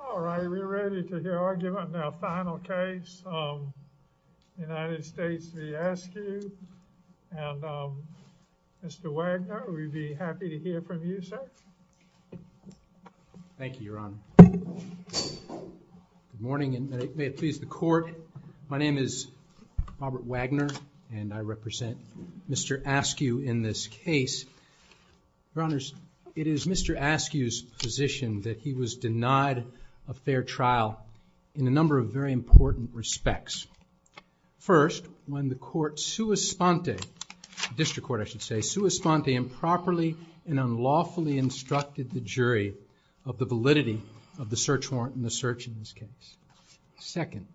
All right, we're ready to hear our final case. United States v. Askew. Mr. Wagner, we'd be happy to hear from you, sir. Thank you, Your Honor. Good morning, and may it please the Court. My name is Robert Wagner, and I represent Mr. Askew in this case. Your Honors, it is Mr. Askew's position that he was denied a fair trial in a number of very important respects. First, when the court sua sponte, district court I should say, sua sponte improperly and unlawfully instructed the jury of the validity of the search warrant in the search in this case. Second,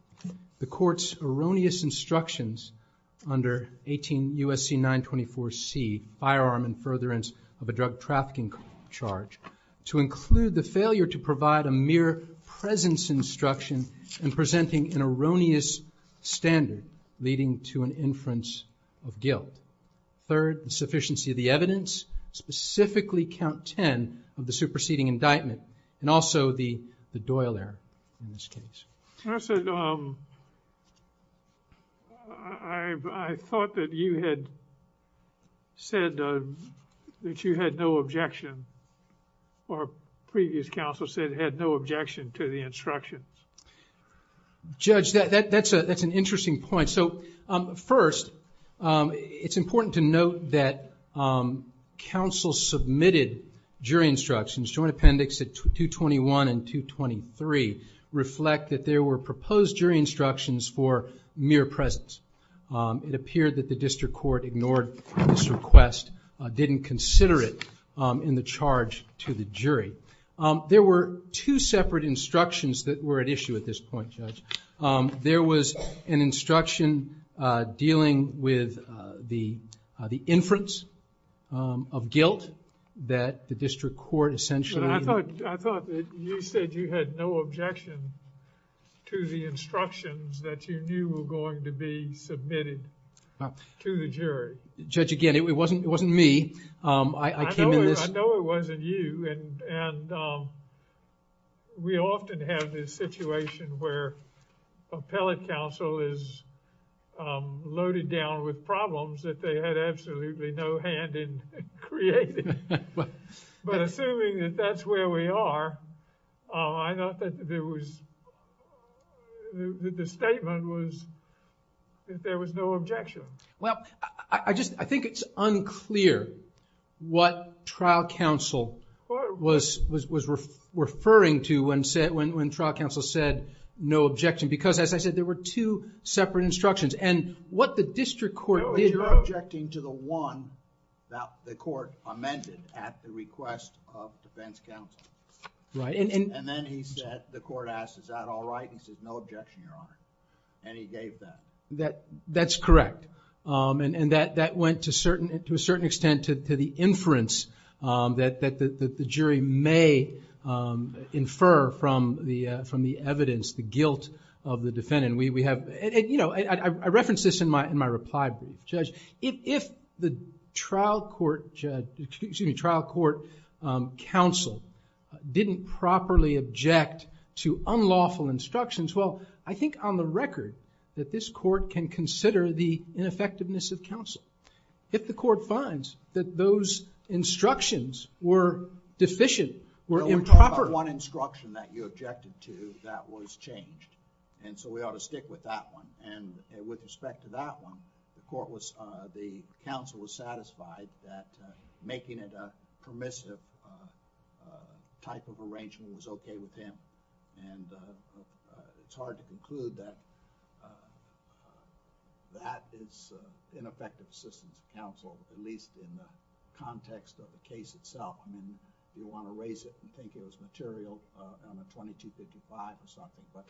the court's erroneous instructions under 18 U.S.C. 924C, Firearm and Furtherance of a Drug Trafficking Charge, to include the failure to provide a mere presence instruction in presenting an erroneous standard leading to an inference of guilt. Third, insufficiency of the evidence, specifically count 10 of the superseding indictment, and also the Doyle error in this case. I thought that you had said that you had no objection, or previous counsel said had no objection to the instructions. Judge, that's an interesting point. So, first, it's important to note that counsel submitted jury instructions, Joint Appendix 221 and 223, reflect that there were proposed jury instructions for mere presence. It appeared that the district court ignored this request, didn't consider it in the charge to the jury. There were two separate instructions that were at issue at this point, Judge. There was an instruction dealing with the inference of guilt that the district court essentially... I thought you said you had no objection to the instructions that you knew were going to be submitted to the jury. Judge, again, it wasn't me. I know it wasn't you, and we often have this situation where appellate counsel is loaded down with problems that they had absolutely no hand in creating. But assuming that that's where we are, I thought that the statement was that there was no objection. Well, I think it's unclear what trial counsel was referring to when trial counsel said no objection. Because, as I said, there were two separate instructions. And what the district court did... No, you're objecting to the one that the court amended at the request of defense counsel. Right. And then he said, the court asked, is that all right? He said, no objection, Your Honor. And he gave that. That's correct. And that went, to a certain extent, to the inference that the jury may infer from the evidence, the guilt of the defendant. I referenced this in my reply, Judge. If the trial court counsel didn't properly object to unlawful instructions, well, I think on the record that this court can consider the ineffectiveness of counsel. If the court finds that those instructions were deficient, were improper... No, we're talking about one instruction that you objected to that was changed. And so we ought to stick with that one. And with respect to that one, the counsel was satisfied that making it a permissive type of arrangement was okay with him. And it's hard to conclude that that is ineffective assistance of counsel, at least in the context of the case itself. I mean, you want to raise it and think it was material on a 2255 or something, but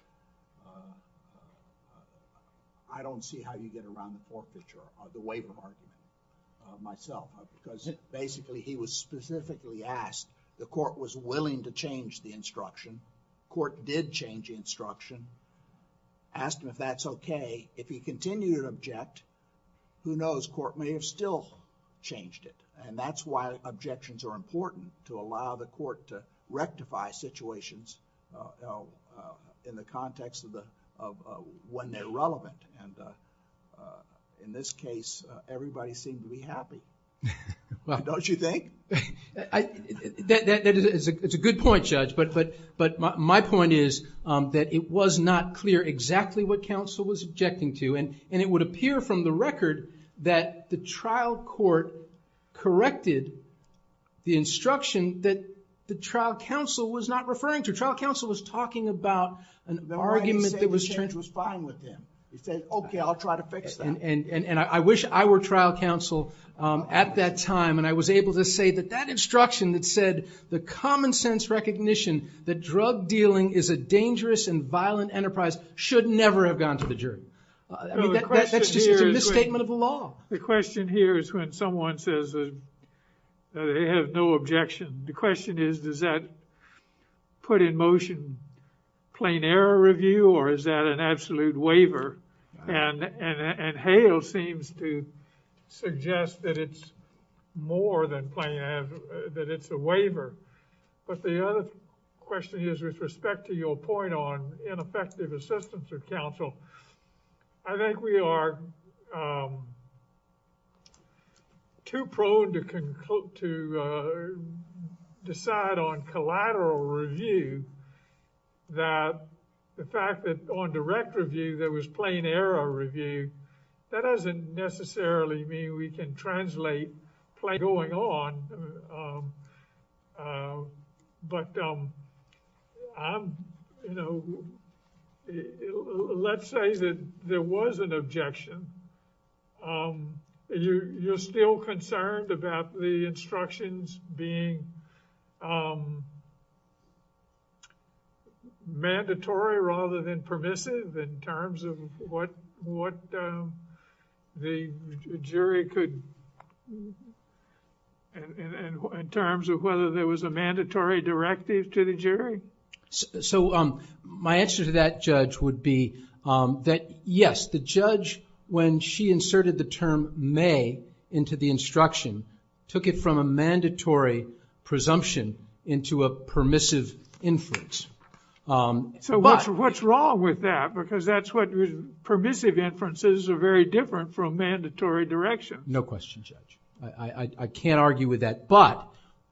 I don't see how you get around the court feature or the waiver argument myself. Because basically, he was specifically asked, the court was willing to change the instruction. Court did change the instruction, asked him if that's okay. If he continued to object, who knows, court may have still changed it. And that's why objections are important, to allow the court to rectify situations in the context of when they're relevant. In this case, everybody seemed to be happy. Don't you think? That is a good point, Judge. But my point is that it was not clear exactly what counsel was objecting to. And it would appear from the record that the trial court corrected the instruction that the trial counsel was not referring to. The trial counsel was talking about an argument that was fine with him. He said, okay, I'll try to fix that. And I wish I were trial counsel at that time and I was able to say that that instruction that said, the common sense recognition that drug dealing is a dangerous and violent enterprise should never have gone to the jury. That's just a misstatement of the law. The question here is when someone says that they have no objection. The question is, does that put in motion plain error review or is that an absolute waiver? And Hale seems to suggest that it's more than plain error, that it's a waiver. But the other question is with respect to your point on ineffective assistance of counsel. I think we are too prone to decide on collateral review that the fact that on direct review there was plain error review, that doesn't necessarily mean we can translate plain error going on. But, you know, let's say that there was an objection. You're still concerned about the instructions being mandatory rather than permissive in terms of what the jury could. And in terms of whether there was a mandatory directive to the jury. So my answer to that judge would be that, yes, the judge, when she inserted the term may into the instruction, took it from a mandatory presumption into a permissive inference. So what's wrong with that? Because that's what permissive inferences are very different from mandatory direction. No question, Judge. I can't argue with that. But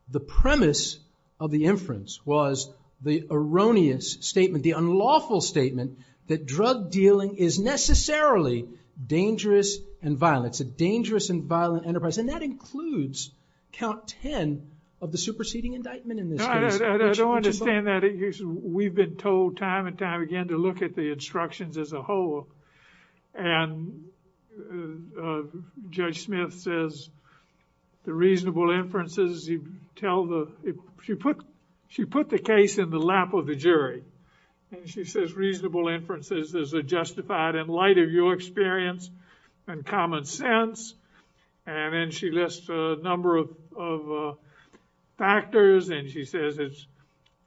the premise of the inference was the erroneous statement, the unlawful statement, that drug dealing is necessarily dangerous and violent. It's a dangerous and violent enterprise. And that includes count ten of the superseding indictment in this case. I don't understand that. We've been told time and time again to look at the instructions as a whole. And Judge Smith says the reasonable inferences, she put the case in the lap of the jury. And she says reasonable inferences is justified in light of your experience and common sense. And then she lists a number of factors. And she says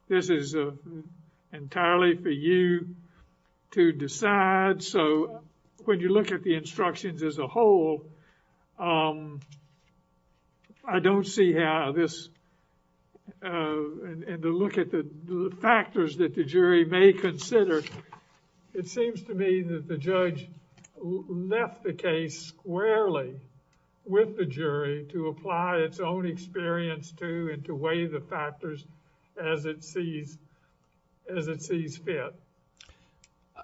this is entirely for you to decide. So when you look at the instructions as a whole, I don't see how this, and to look at the factors that the jury may consider, it seems to me that the judge left the case squarely with the jury to apply its own experience to and to weigh the factors as it sees fit.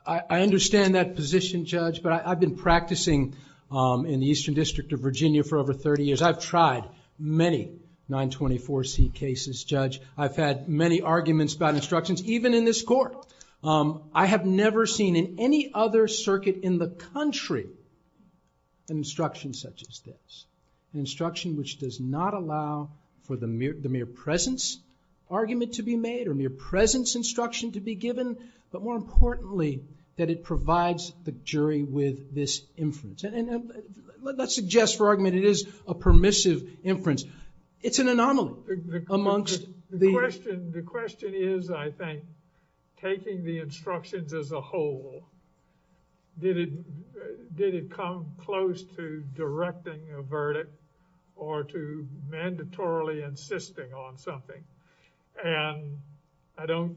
I understand that position, Judge. But I've been practicing in the Eastern District of Virginia for over thirty years. I've tried many 924C cases, Judge. I've had many arguments about instructions, even in this court. I have never seen in any other circuit in the country an instruction such as this. An instruction which does not allow for the mere presence argument to be made or mere presence instruction to be given. But more importantly, that it provides the jury with this inference. And let's suggest for argument it is a permissive inference. It's an anomaly amongst the... The question is, I think, taking the instructions as a whole, did it come close to directing a verdict or to mandatorily insisting on something? And I don't...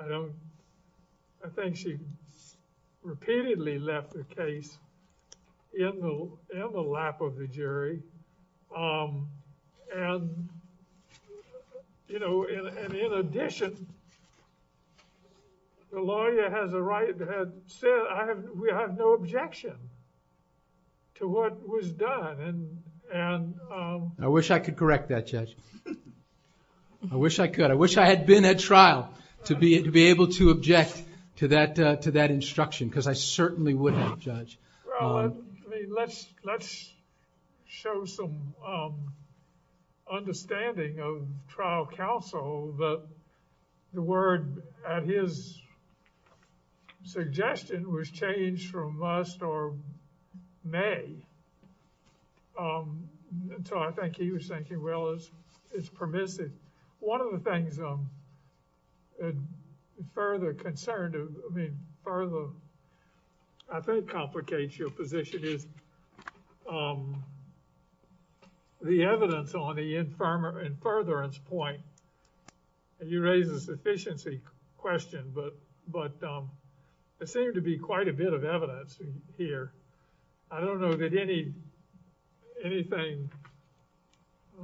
I think she repeatedly left the case in the lap of the jury. And, you know, in addition, the lawyer has said we have no objection to what was done. I wish I could correct that, Judge. I wish I could. I wish I had been at trial to be able to object to that instruction because I certainly wouldn't, Judge. Well, I mean, let's show some understanding of trial counsel that the word at his suggestion was changed from must or may. So I think he was thinking, well, it's permissive. One of the things further concerned, I mean, further, I think, complicates your position is the evidence on the inference point. And you raise a sufficiency question, but there seemed to be quite a bit of evidence here. I don't know that anything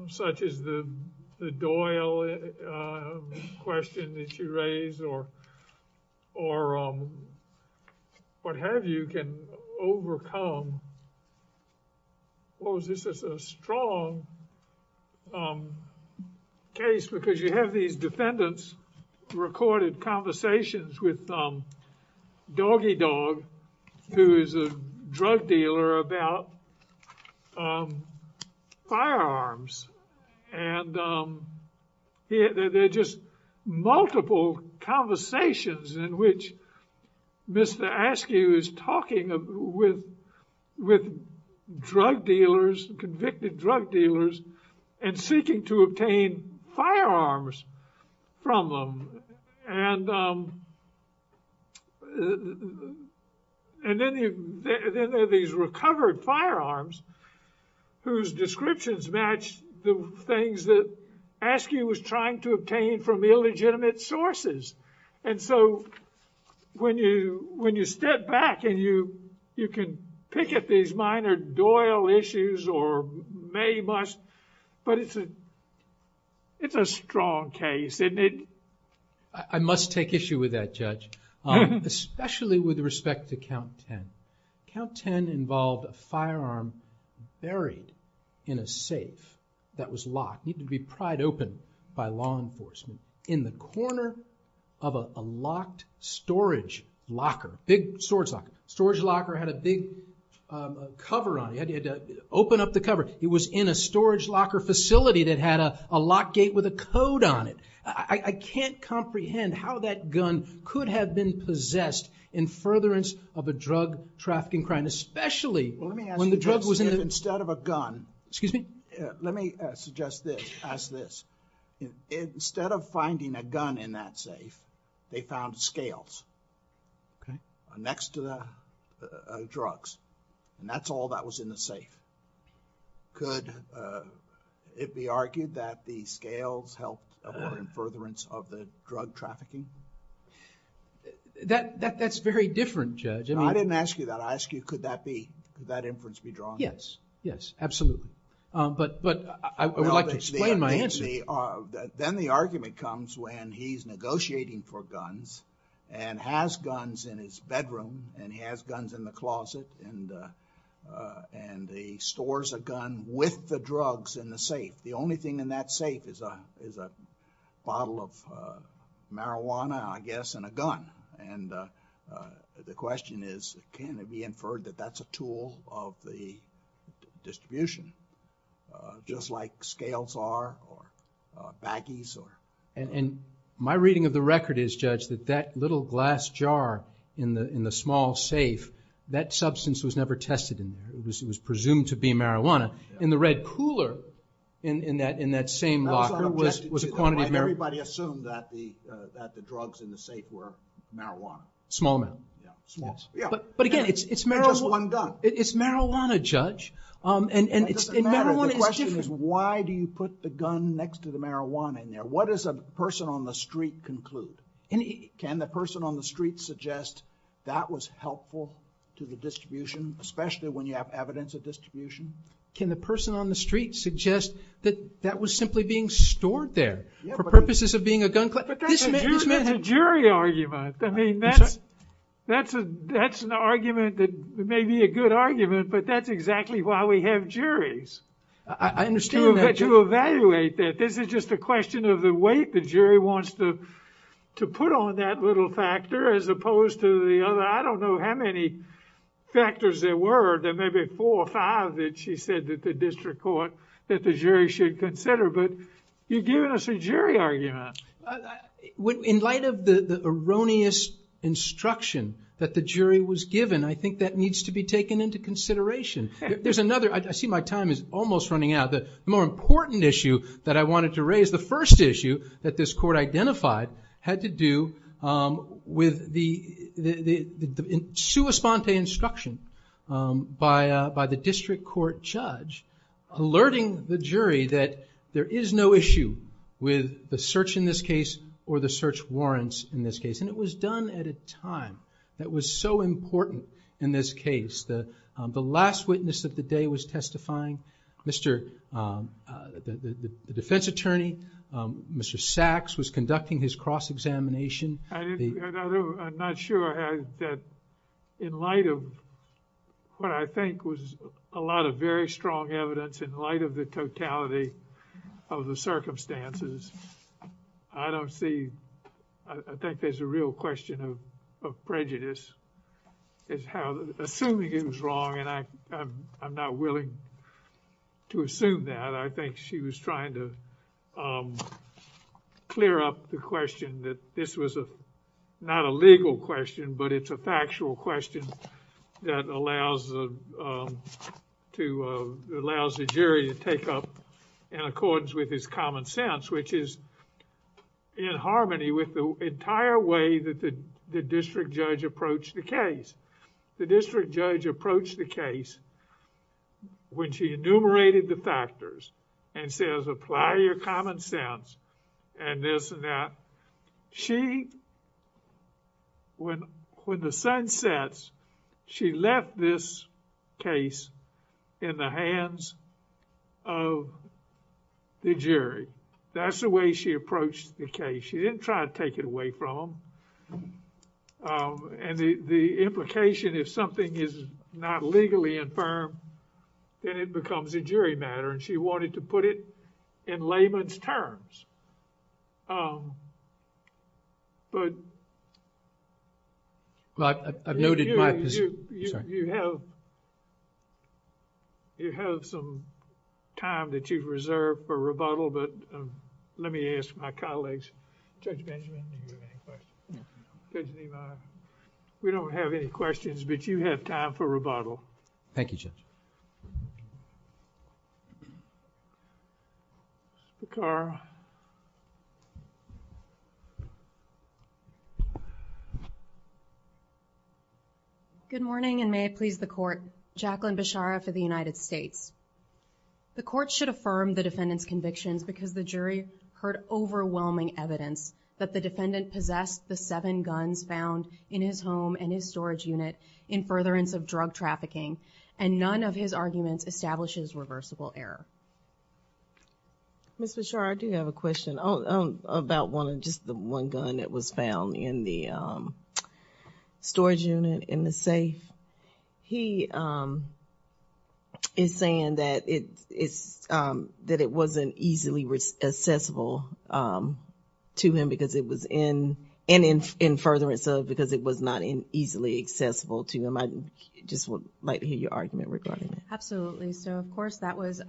such as the Doyle question that you raised or what have you can overcome. This is a strong case because you have these defendants recorded conversations with Doggy Dog, who is a drug dealer, about firearms. And they're just multiple conversations in which Mr. Askew is talking with drug dealers, convicted drug dealers, and seeking to obtain firearms from them. And then there are these recovered firearms whose descriptions match the things that Askew was trying to obtain from illegitimate sources. And so when you step back and you can pick at these minor Doyle issues or may, must, but it's a strong case. I must take issue with that, Judge, especially with respect to Count 10. Count 10 involved a firearm buried in a safe that was locked. It needed to be pried open by law enforcement in the corner of a locked storage locker. Big storage locker. Storage locker had a big cover on it. You had to open up the cover. It was in a storage locker facility that had a lock gate with a code on it. I can't comprehend how that gun could have been possessed in furtherance of a drug trafficking crime, especially when the drug was in it. Let me suggest this. Instead of finding a gun in that safe, they found scales next to the drugs. And that's all that was in the safe. Could it be argued that the scales helped in furtherance of the drug trafficking? That's very different, Judge. I didn't ask you that. I asked you could that inference be drawn. Yes. Yes, absolutely. But I would like to explain my answer. Then the argument comes when he's negotiating for guns and has guns in his bedroom and he has guns in the closet and he stores a gun with the drugs in the safe. The only thing in that safe is a bottle of marijuana, I guess, and a gun. And the question is can it be inferred that that's a tool of the distribution just like scales are or baggies or... And my reading of the record is, Judge, that that little glass jar in the small safe, that substance was never tested in there. It was presumed to be marijuana. In the red cooler in that same locker was a quantity of marijuana. Everybody assumed that the drugs in the safe were marijuana. Small amount. Yeah, small. But again, it's marijuana, Judge. That doesn't matter. The question is why do you put the gun next to the marijuana in there? What does a person on the street conclude? Can the person on the street suggest that was helpful to the distribution, especially when you have evidence of distribution? Can the person on the street suggest that that was simply being stored there for purposes of being a gun collector? But that's a jury argument. I mean, that's an argument that may be a good argument, but that's exactly why we have juries to evaluate that. This is just a question of the weight the jury wants to put on that little factor as opposed to the other. I don't know how many factors there were. There may be four or five that she said that the district court, that the jury should consider. But you're giving us a jury argument. In light of the erroneous instruction that the jury was given, I think that needs to be taken into consideration. There's another. I see my time is almost running out. The more important issue that I wanted to raise, the first issue that this court identified, had to do with the sua sponte instruction by the district court judge, alerting the jury that there is no issue with the search in this case or the search warrants in this case. And it was done at a time that was so important in this case. The last witness of the day was testifying. The defense attorney, Mr. Sachs, was conducting his cross-examination. I'm not sure that in light of what I think was a lot of very strong evidence in light of the totality of the circumstances, I don't see, I think there's a real question of prejudice. Assuming it was wrong and I'm not willing to assume that, I think she was trying to clear up the question that this was not a legal question but it's a factual question that allows the jury to take up in accordance with his common sense, which is in harmony with the entire way that the district judge approached the case. The district judge approached the case when she enumerated the factors and says, apply your common sense and this and that. She, when the sun sets, she left this case in the hands of the jury. That's the way she approached the case. She didn't try to take it away from them. The implication is something is not legally infirm, then it becomes a jury matter and she wanted to put it in layman's terms. But... Let me ask my colleagues, Judge Benjamin, you have any questions. Judge Levi, we don't have any questions but you have time for rebuttal. Thank you Judge. Mrs. Bekar. Good morning and may it please the court. Jacqueline Bechara for the United States. The court should affirm the defendant's convictions because the jury heard overwhelming evidence that the defendant possessed the seven guns found in his home and his storage unit in furtherance of drug trafficking and none of his arguments establishes reversible error. Mrs. Bechara, I do have a question about just the one gun that was found in the storage unit in the safe. He is saying that it wasn't easily accessible to him and in furtherance of because it was not easily accessible to him. I just would like to hear your argument regarding that. Absolutely. So of course that was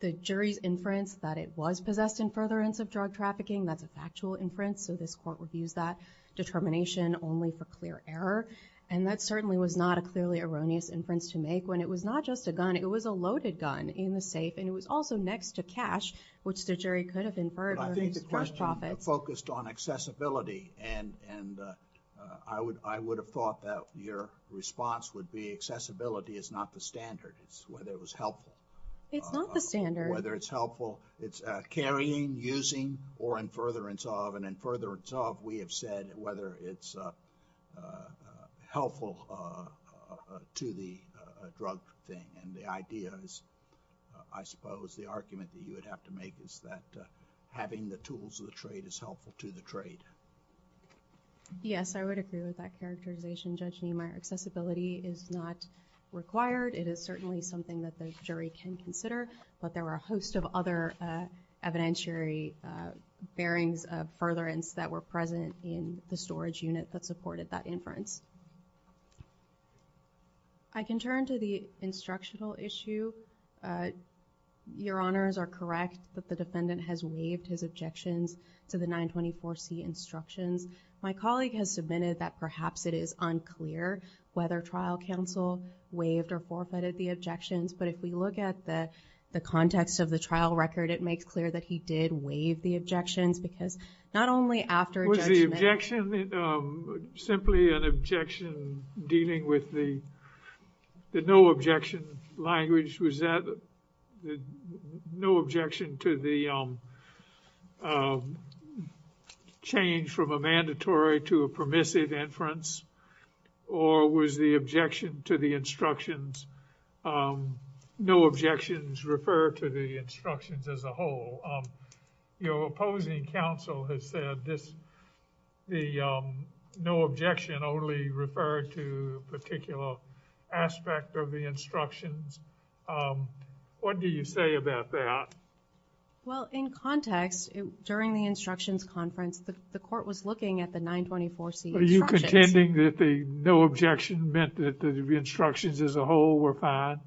the jury's inference that it was possessed in furtherance of drug trafficking. That's a factual inference so this court would use that determination only for clear error and that certainly was not a clearly erroneous inference to make when it was not just a gun. It was a loaded gun in the safe and it was also next to cash which the jury could have inferred. I think the question focused on accessibility and I would have thought that your response would be accessibility is not the standard. It's whether it was helpful. It's not the standard. Whether it's helpful, it's carrying, using or in furtherance of and in furtherance of we have said whether it's helpful to the drug thing and the idea is I suppose the argument that you would have to make is that having the tools of the trade is helpful to the trade. Yes. I would agree with that characterization. Judging my accessibility is not required. It is certainly something that the jury can consider but there were a host of other evidentiary bearings of furtherance that were present in the storage unit that supported that inference. I can turn to the instructional issue. Your Honors are correct that the defendant has waived his objections to the 924C instructions. My colleague has submitted that perhaps it is unclear whether trial counsel waived or forfeited the objections but if we look at the context of the trial record it makes clear that he did waive the objections because not only after judgment. Was the objection simply an objection dealing with the no objection language? Was that no objection to the change from a mandatory to a permissive inference or was the objection to the instructions, no objections refer to the instructions as a whole? Your opposing counsel has said this, the no objection only referred to a particular aspect of the instructions. What do you say about that? Well, in context during the instructions conference the court was looking at the 924C instructions. Intending that the no objection meant that the instructions as a whole were fine?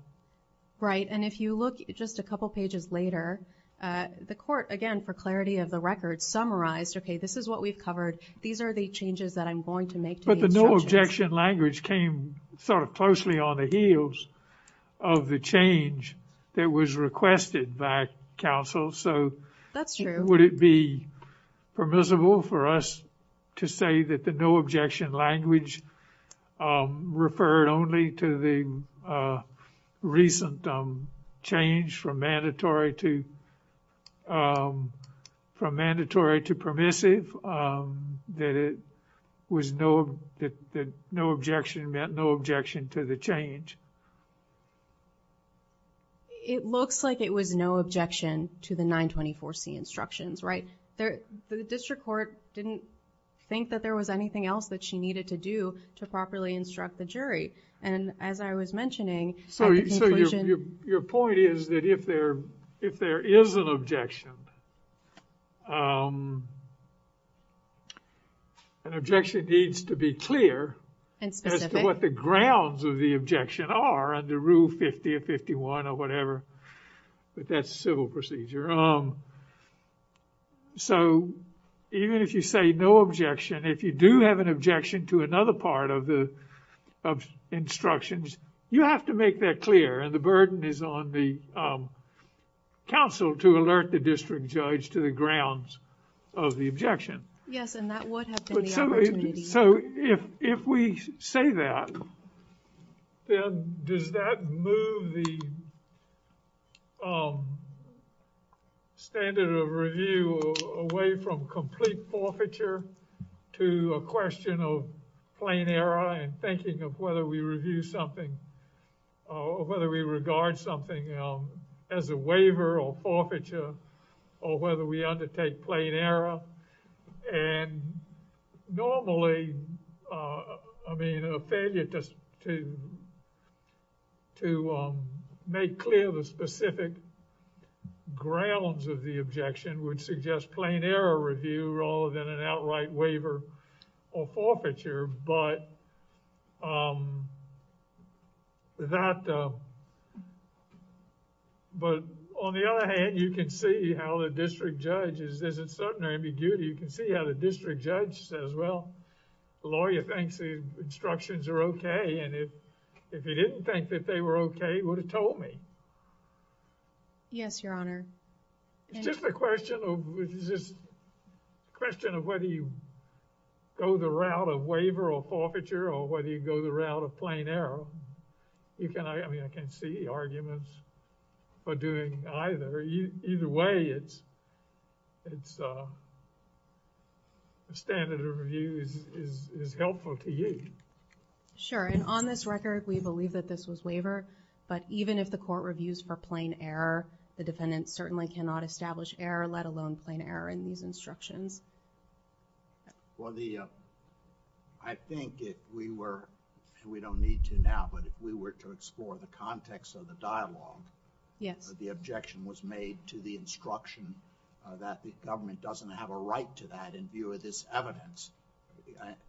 Right and if you look just a couple pages later the court again for clarity of the record summarized okay this is what we've covered these are the changes that I'm going to make to the instructions. But the no objection language came sort of closely on the heels of the change that was requested by counsel. So that's true. Would it be permissible for us to say that the no objection language referred only to the recent change from mandatory to permissive? That no objection meant no objection to the change? It looks like it was no objection to the 924C instructions, right? The district court didn't think that there was anything else that she needed to do to properly instruct the jury. And as I was mentioning... So your point is that if there is an objection, an objection needs to be clear as to what the grounds of the objection are under Rule 50 or 51 or whatever. But that's civil procedure. So even if you say no objection, if you do have an objection to another part of the instructions, you have to make that clear and the burden is on the counsel to alert the district judge to the grounds of the objection. Yes, and that would have been the opportunity. So if we say that, then does that move the standard of review away from complete forfeiture to a question of plain error and thinking of whether we review something or whether we regard something as a waiver or forfeiture or whether we undertake plain error. And normally, I mean, a failure to make clear the specific grounds of the objection would suggest plain error review rather than an outright waiver or forfeiture. But that... But on the other hand, you can see how the district judge is uncertain or ambiguity. You can see how the district judge says, well, the lawyer thinks the instructions are okay. And if he didn't think that they were okay, he would have told me. Yes, Your Honor. It's just a question of whether you go the route of waiver or forfeiture or whether you go the route of plain error. I mean, I can't see arguments for doing either. Either way, the standard of review is helpful to you. Sure, and on this record, we believe that this was waiver. But even if the court reviews for plain error, the defendant certainly cannot establish error, let alone plain error in these instructions. Well, I think if we were, and we don't need to now, but if we were to explore the context of the dialogue, the objection was made to the instruction that the government doesn't have a right to that in view of this evidence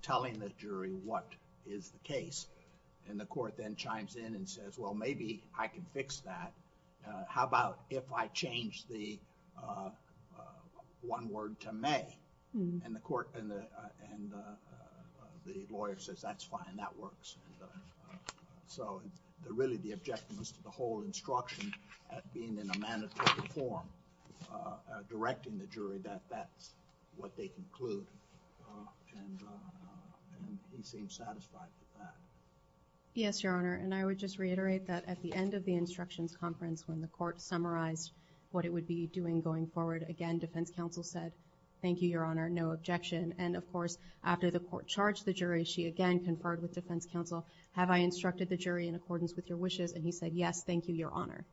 telling the jury what is the case. And the court then chimes in and says, well, maybe I can fix that. How about if I change the one word to may? And the court and the lawyer says, that's fine, that works. So, really the objection was to the whole instruction at being in a mandatory form directing the jury that that's what they conclude. And we seem satisfied with that. Yes, Your Honor. And I would just reiterate that at the end of the instructions conference when the court summarized what it would be doing going forward, again, defense counsel said, thank you, Your Honor, no objection. And of course, after the court charged the jury, she again conferred with defense counsel, have I instructed the jury in accordance with your wishes? And he said, yes, thank you, Your Honor.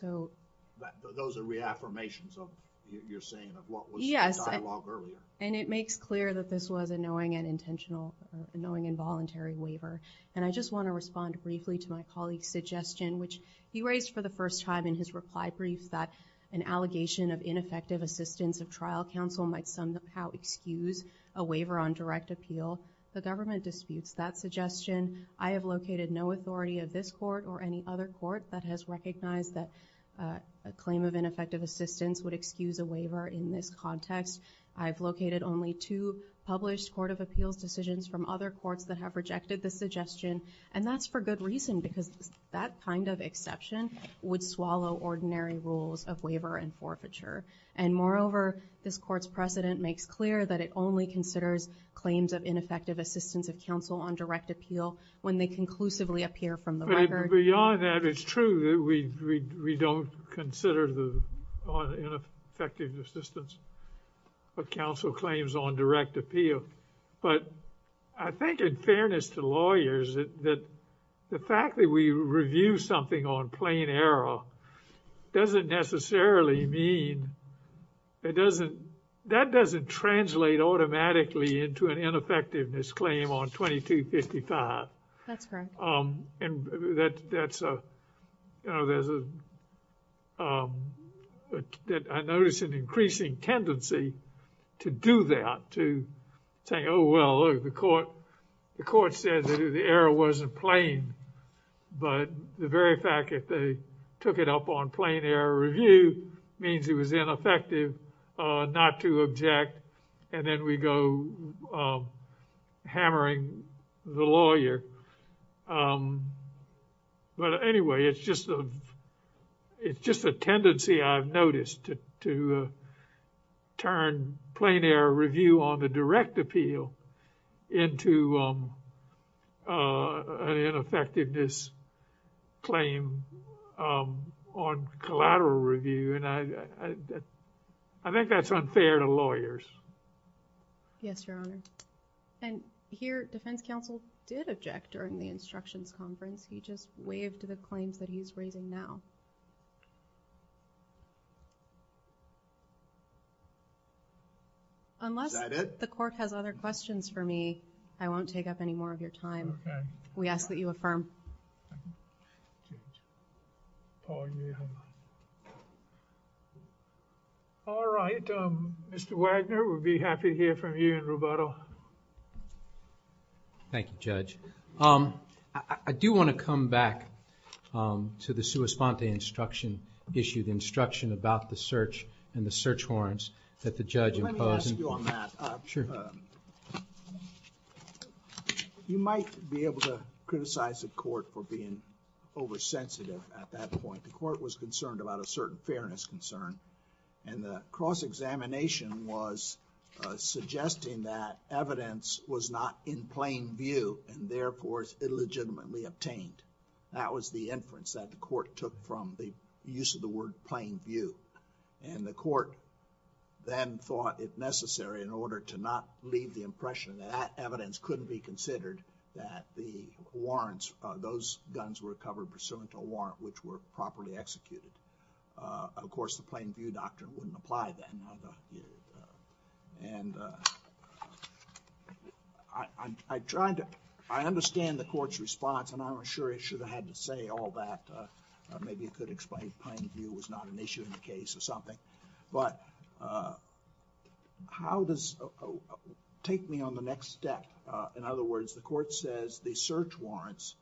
Those are reaffirmations of what you're saying of what was in the dialogue earlier. Yes, and it makes clear that this was a knowing and intentional, knowing involuntary waiver. And I just want to respond briefly to my colleague's suggestion, which he raised for the first time in his reply brief that an allegation of ineffective assistance of trial counsel might somehow excuse a waiver on direct appeal. The government disputes that suggestion. I have located no authority of this court or any other court that has recognized that a claim of ineffective assistance would excuse a waiver in this context. I've located only two published court of appeals decisions from other courts that have rejected the suggestion. And that's for good reason, because that kind of exception would swallow ordinary rules of waiver and forfeiture. And moreover, this court's precedent makes clear that it only considers claims of ineffective assistance of counsel on direct appeal when they conclusively appear from the record. Beyond that, it's true that we don't consider the ineffective assistance of counsel claims on direct appeal. But I think in fairness to lawyers that the fact that we review something on plain error doesn't necessarily mean it doesn't, that doesn't translate automatically into an ineffectiveness claim on 2255. That's correct. And that's a, you know, there's a, that I notice an increasing tendency to do that. To say, oh, well, look, the court, the court said that the error wasn't plain. But the very fact that they took it up on plain error review means it was ineffective not to object. And then we go hammering the lawyer. But anyway, it's just, it's just a tendency I've noticed to turn plain error review on the direct appeal into an ineffectiveness claim on collateral review. And I, I think that's unfair to lawyers. Yes, Your Honor. And here, defense counsel did object during the instructions conference. He just waved to the claims that he's raising now. Unless the court has other questions for me, I won't take up any more of your time. We ask that you affirm. Thank you. Oh, yeah. All right. Mr. Wagner, we'll be happy to hear from you and Roberto. Thank you, Judge. I do want to come back to the sua sponte instruction issue, the instruction about the search and the search warrants that the judge imposed. Let me ask you on that. Sure. You might be able to criticize the court for being oversensitive at that point. The court was concerned about a certain fairness concern. And the cross-examination was suggesting that evidence was not in plain view and, therefore, is illegitimately obtained. That was the inference that the court took from the use of the word plain view. And the court then thought, if necessary, in order to not leave the impression that that evidence couldn't be considered, that the warrants, those guns were covered pursuant to a warrant which were properly executed. Of course, the plain view doctrine wouldn't apply then. And I'm trying to, I understand the court's response, and I'm not sure it should have had to say all that. Maybe it could explain plain view was not an issue in the case or something. But how does, take me on the next step. In other words, the court says the search warrants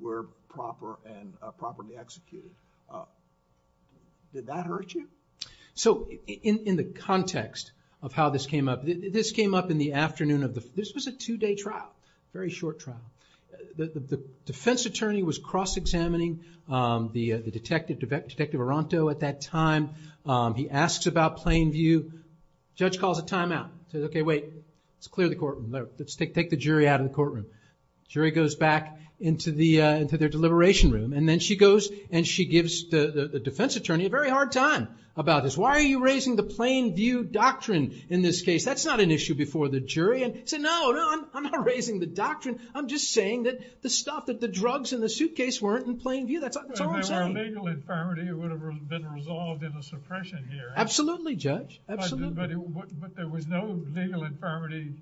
were proper and properly executed. Did that hurt you? So in the context of how this came up, this came up in the afternoon of the, this was a two-day trial. Very short trial. The defense attorney was cross-examining the detective Aranto at that time. He asks about plain view. Judge calls a timeout. Says, okay, wait, let's clear the courtroom. Let's take the jury out of the courtroom. Jury goes back into their deliberation room. And then she goes and she gives the defense attorney a very hard time about this. Why are you raising the plain view doctrine in this case? That's not an issue before the jury. And he said, no, no, I'm not raising the doctrine. I'm just saying that the stuff, that the drugs in the suitcase weren't in plain view. That's all I'm saying. If there were a legal infirmity, it would have been resolved in a suppression hearing. Absolutely, Judge. Absolutely. But there was no legal infirmity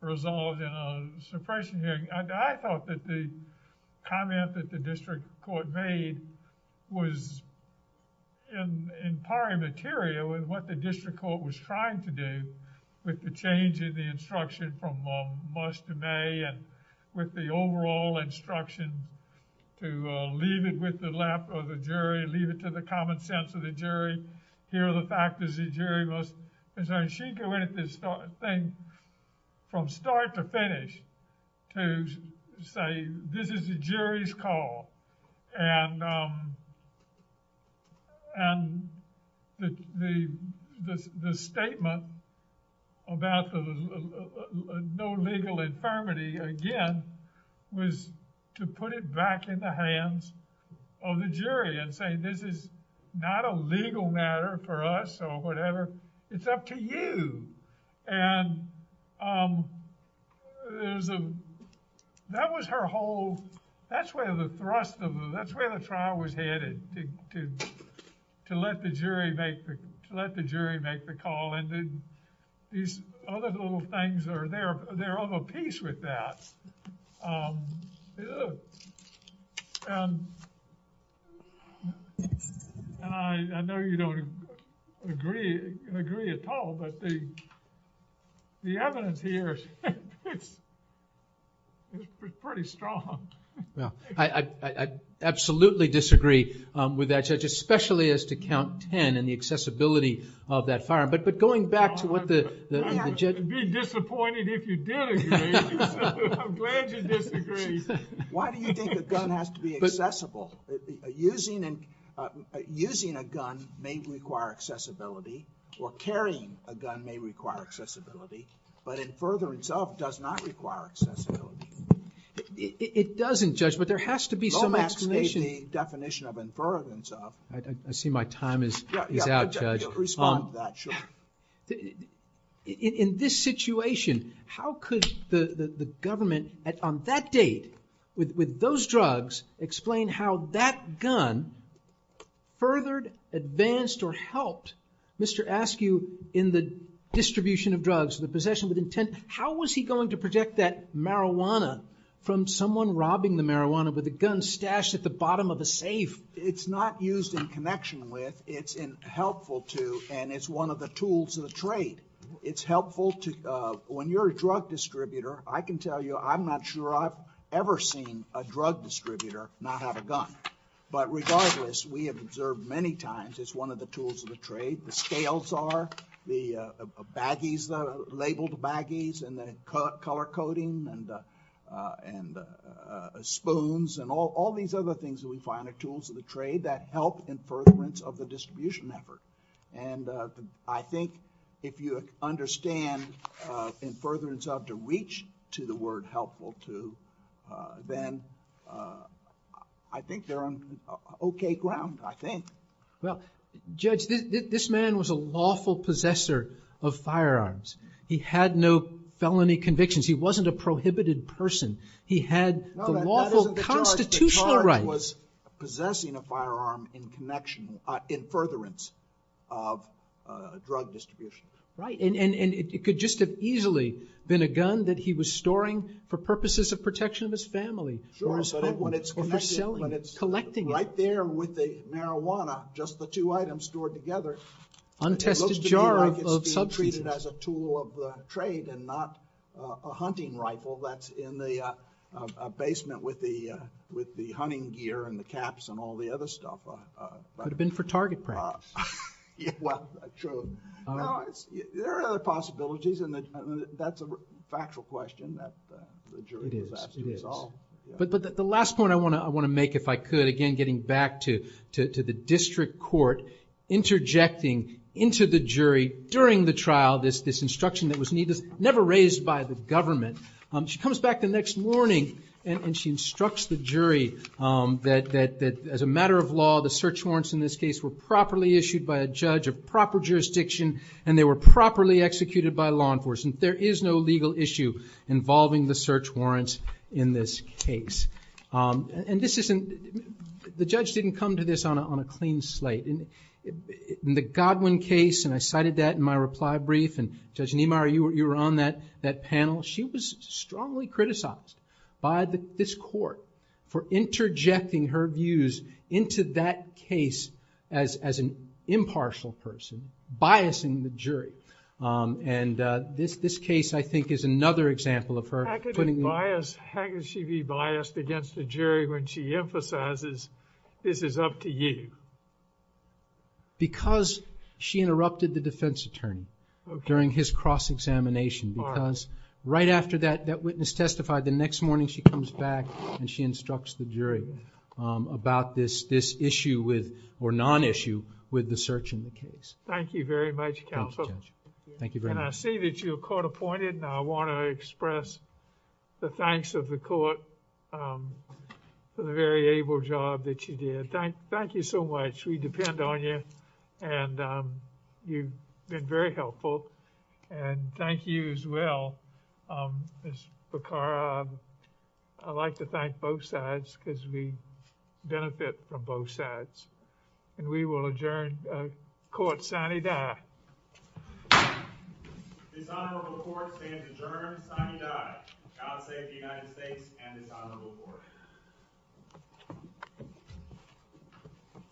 resolved in a suppression hearing. I thought that the comment that the district court made was in pari material to what the district court was trying to do with the change in the instruction from March to May and with the overall instruction to leave it with the left or the jury, leave it to the common sense of the jury. Here are the factors the jury must. And so she went at this thing from start to finish to say, this is the jury's call. And the statement about no legal infirmity, again, was to put it back in the hands of the jury and say, this is not a legal matter for us or whatever. It's up to you. And that was her whole, that's where the thrust of it, that's where the trial was headed, to let the jury make the call. And these other little things are there, they're of a piece with that. And I know you don't agree at all, but the evidence here is pretty strong. Yeah, I absolutely disagree with that, Judge, especially as to count 10 and the accessibility of that firearm. But going back to what the judge... Why do you think a gun has to be accessible? Using a gun may require accessibility, or carrying a gun may require accessibility, but in furtherance of does not require accessibility. It doesn't, Judge, but there has to be some explanation. Don't escape the definition of in furtherance of. I see my time is out, Judge. You'll respond to that, sure. In this situation, how could the government, on that date, with those drugs, explain how that gun furthered, advanced, or helped Mr. Askew in the distribution of drugs, the possession with intent? How was he going to protect that marijuana from someone robbing the marijuana with a gun stashed at the bottom of a safe? It's not used in connection with, it's helpful to, and it's one of the tools of the trade. It's helpful to... When you're a drug distributor, I can tell you, I'm not sure I've ever seen a drug distributor not have a gun. But regardless, we have observed many times it's one of the tools of the trade. The scales are, the baggies, the labeled baggies, and the color coding, and spoons, and all these other things that we find are tools of the trade that help in furtherance of the distribution effort. And I think if you understand in furtherance of, to reach to the word helpful to, then I think they're on okay ground, I think. Well, Judge, this man was a lawful possessor of firearms. He had no felony convictions. He wasn't a prohibited person. He had the lawful constitutional right. No, that isn't the charge. The charge was possessing a firearm in connection, in furtherance of drug distribution. Right, and it could just have easily been a gun that he was storing for purposes of protection of his family. Sure, but when it's connected, when it's right there with the marijuana, just the two items stored together, it looks to me like it's being treated as a tool of the trade and not a hunting rifle that's in the basement with the hunting gear and the caps and all the other stuff. Could have been for target practice. Well, true. There are other possibilities, and that's a factual question that the jury will have to resolve. It is. But the last point I want to make, if I could, again getting back to the district court, interjecting into the jury during the trial this instruction that was never raised by the government. She comes back the next morning and she instructs the jury that as a matter of law the search warrants in this case were properly issued by a judge of proper jurisdiction and they were properly executed by law enforcement. There is no legal issue involving the search warrants in this case. And the judge didn't come to this on a clean slate. In the Godwin case, and I cited that in my reply brief, and Judge Niemeyer, you were on that panel. She was strongly criticized by this court for interjecting her views into that case as an impartial person, biasing the jury. And this case, I think, is another example of her. How could she be biased against the jury when she emphasizes this is up to you? Because she interrupted the defense attorney during his cross-examination. Because right after that witness testified, the next morning she comes back and she instructs the jury about this issue or non-issue with the search in the case. Thank you very much, counsel. Thank you very much. And I see that you're court-appointed and I want to express the thanks of the court for the very able job that you did. Thank you so much. We depend on you. And you've been very helpful. And thank you as well, Ms. Bekarov. I'd like to thank both sides because we benefit from both sides. And we will adjourn court sine die. This honorable court stands adjourned sine die. God save the United States and this honorable court. Thank you.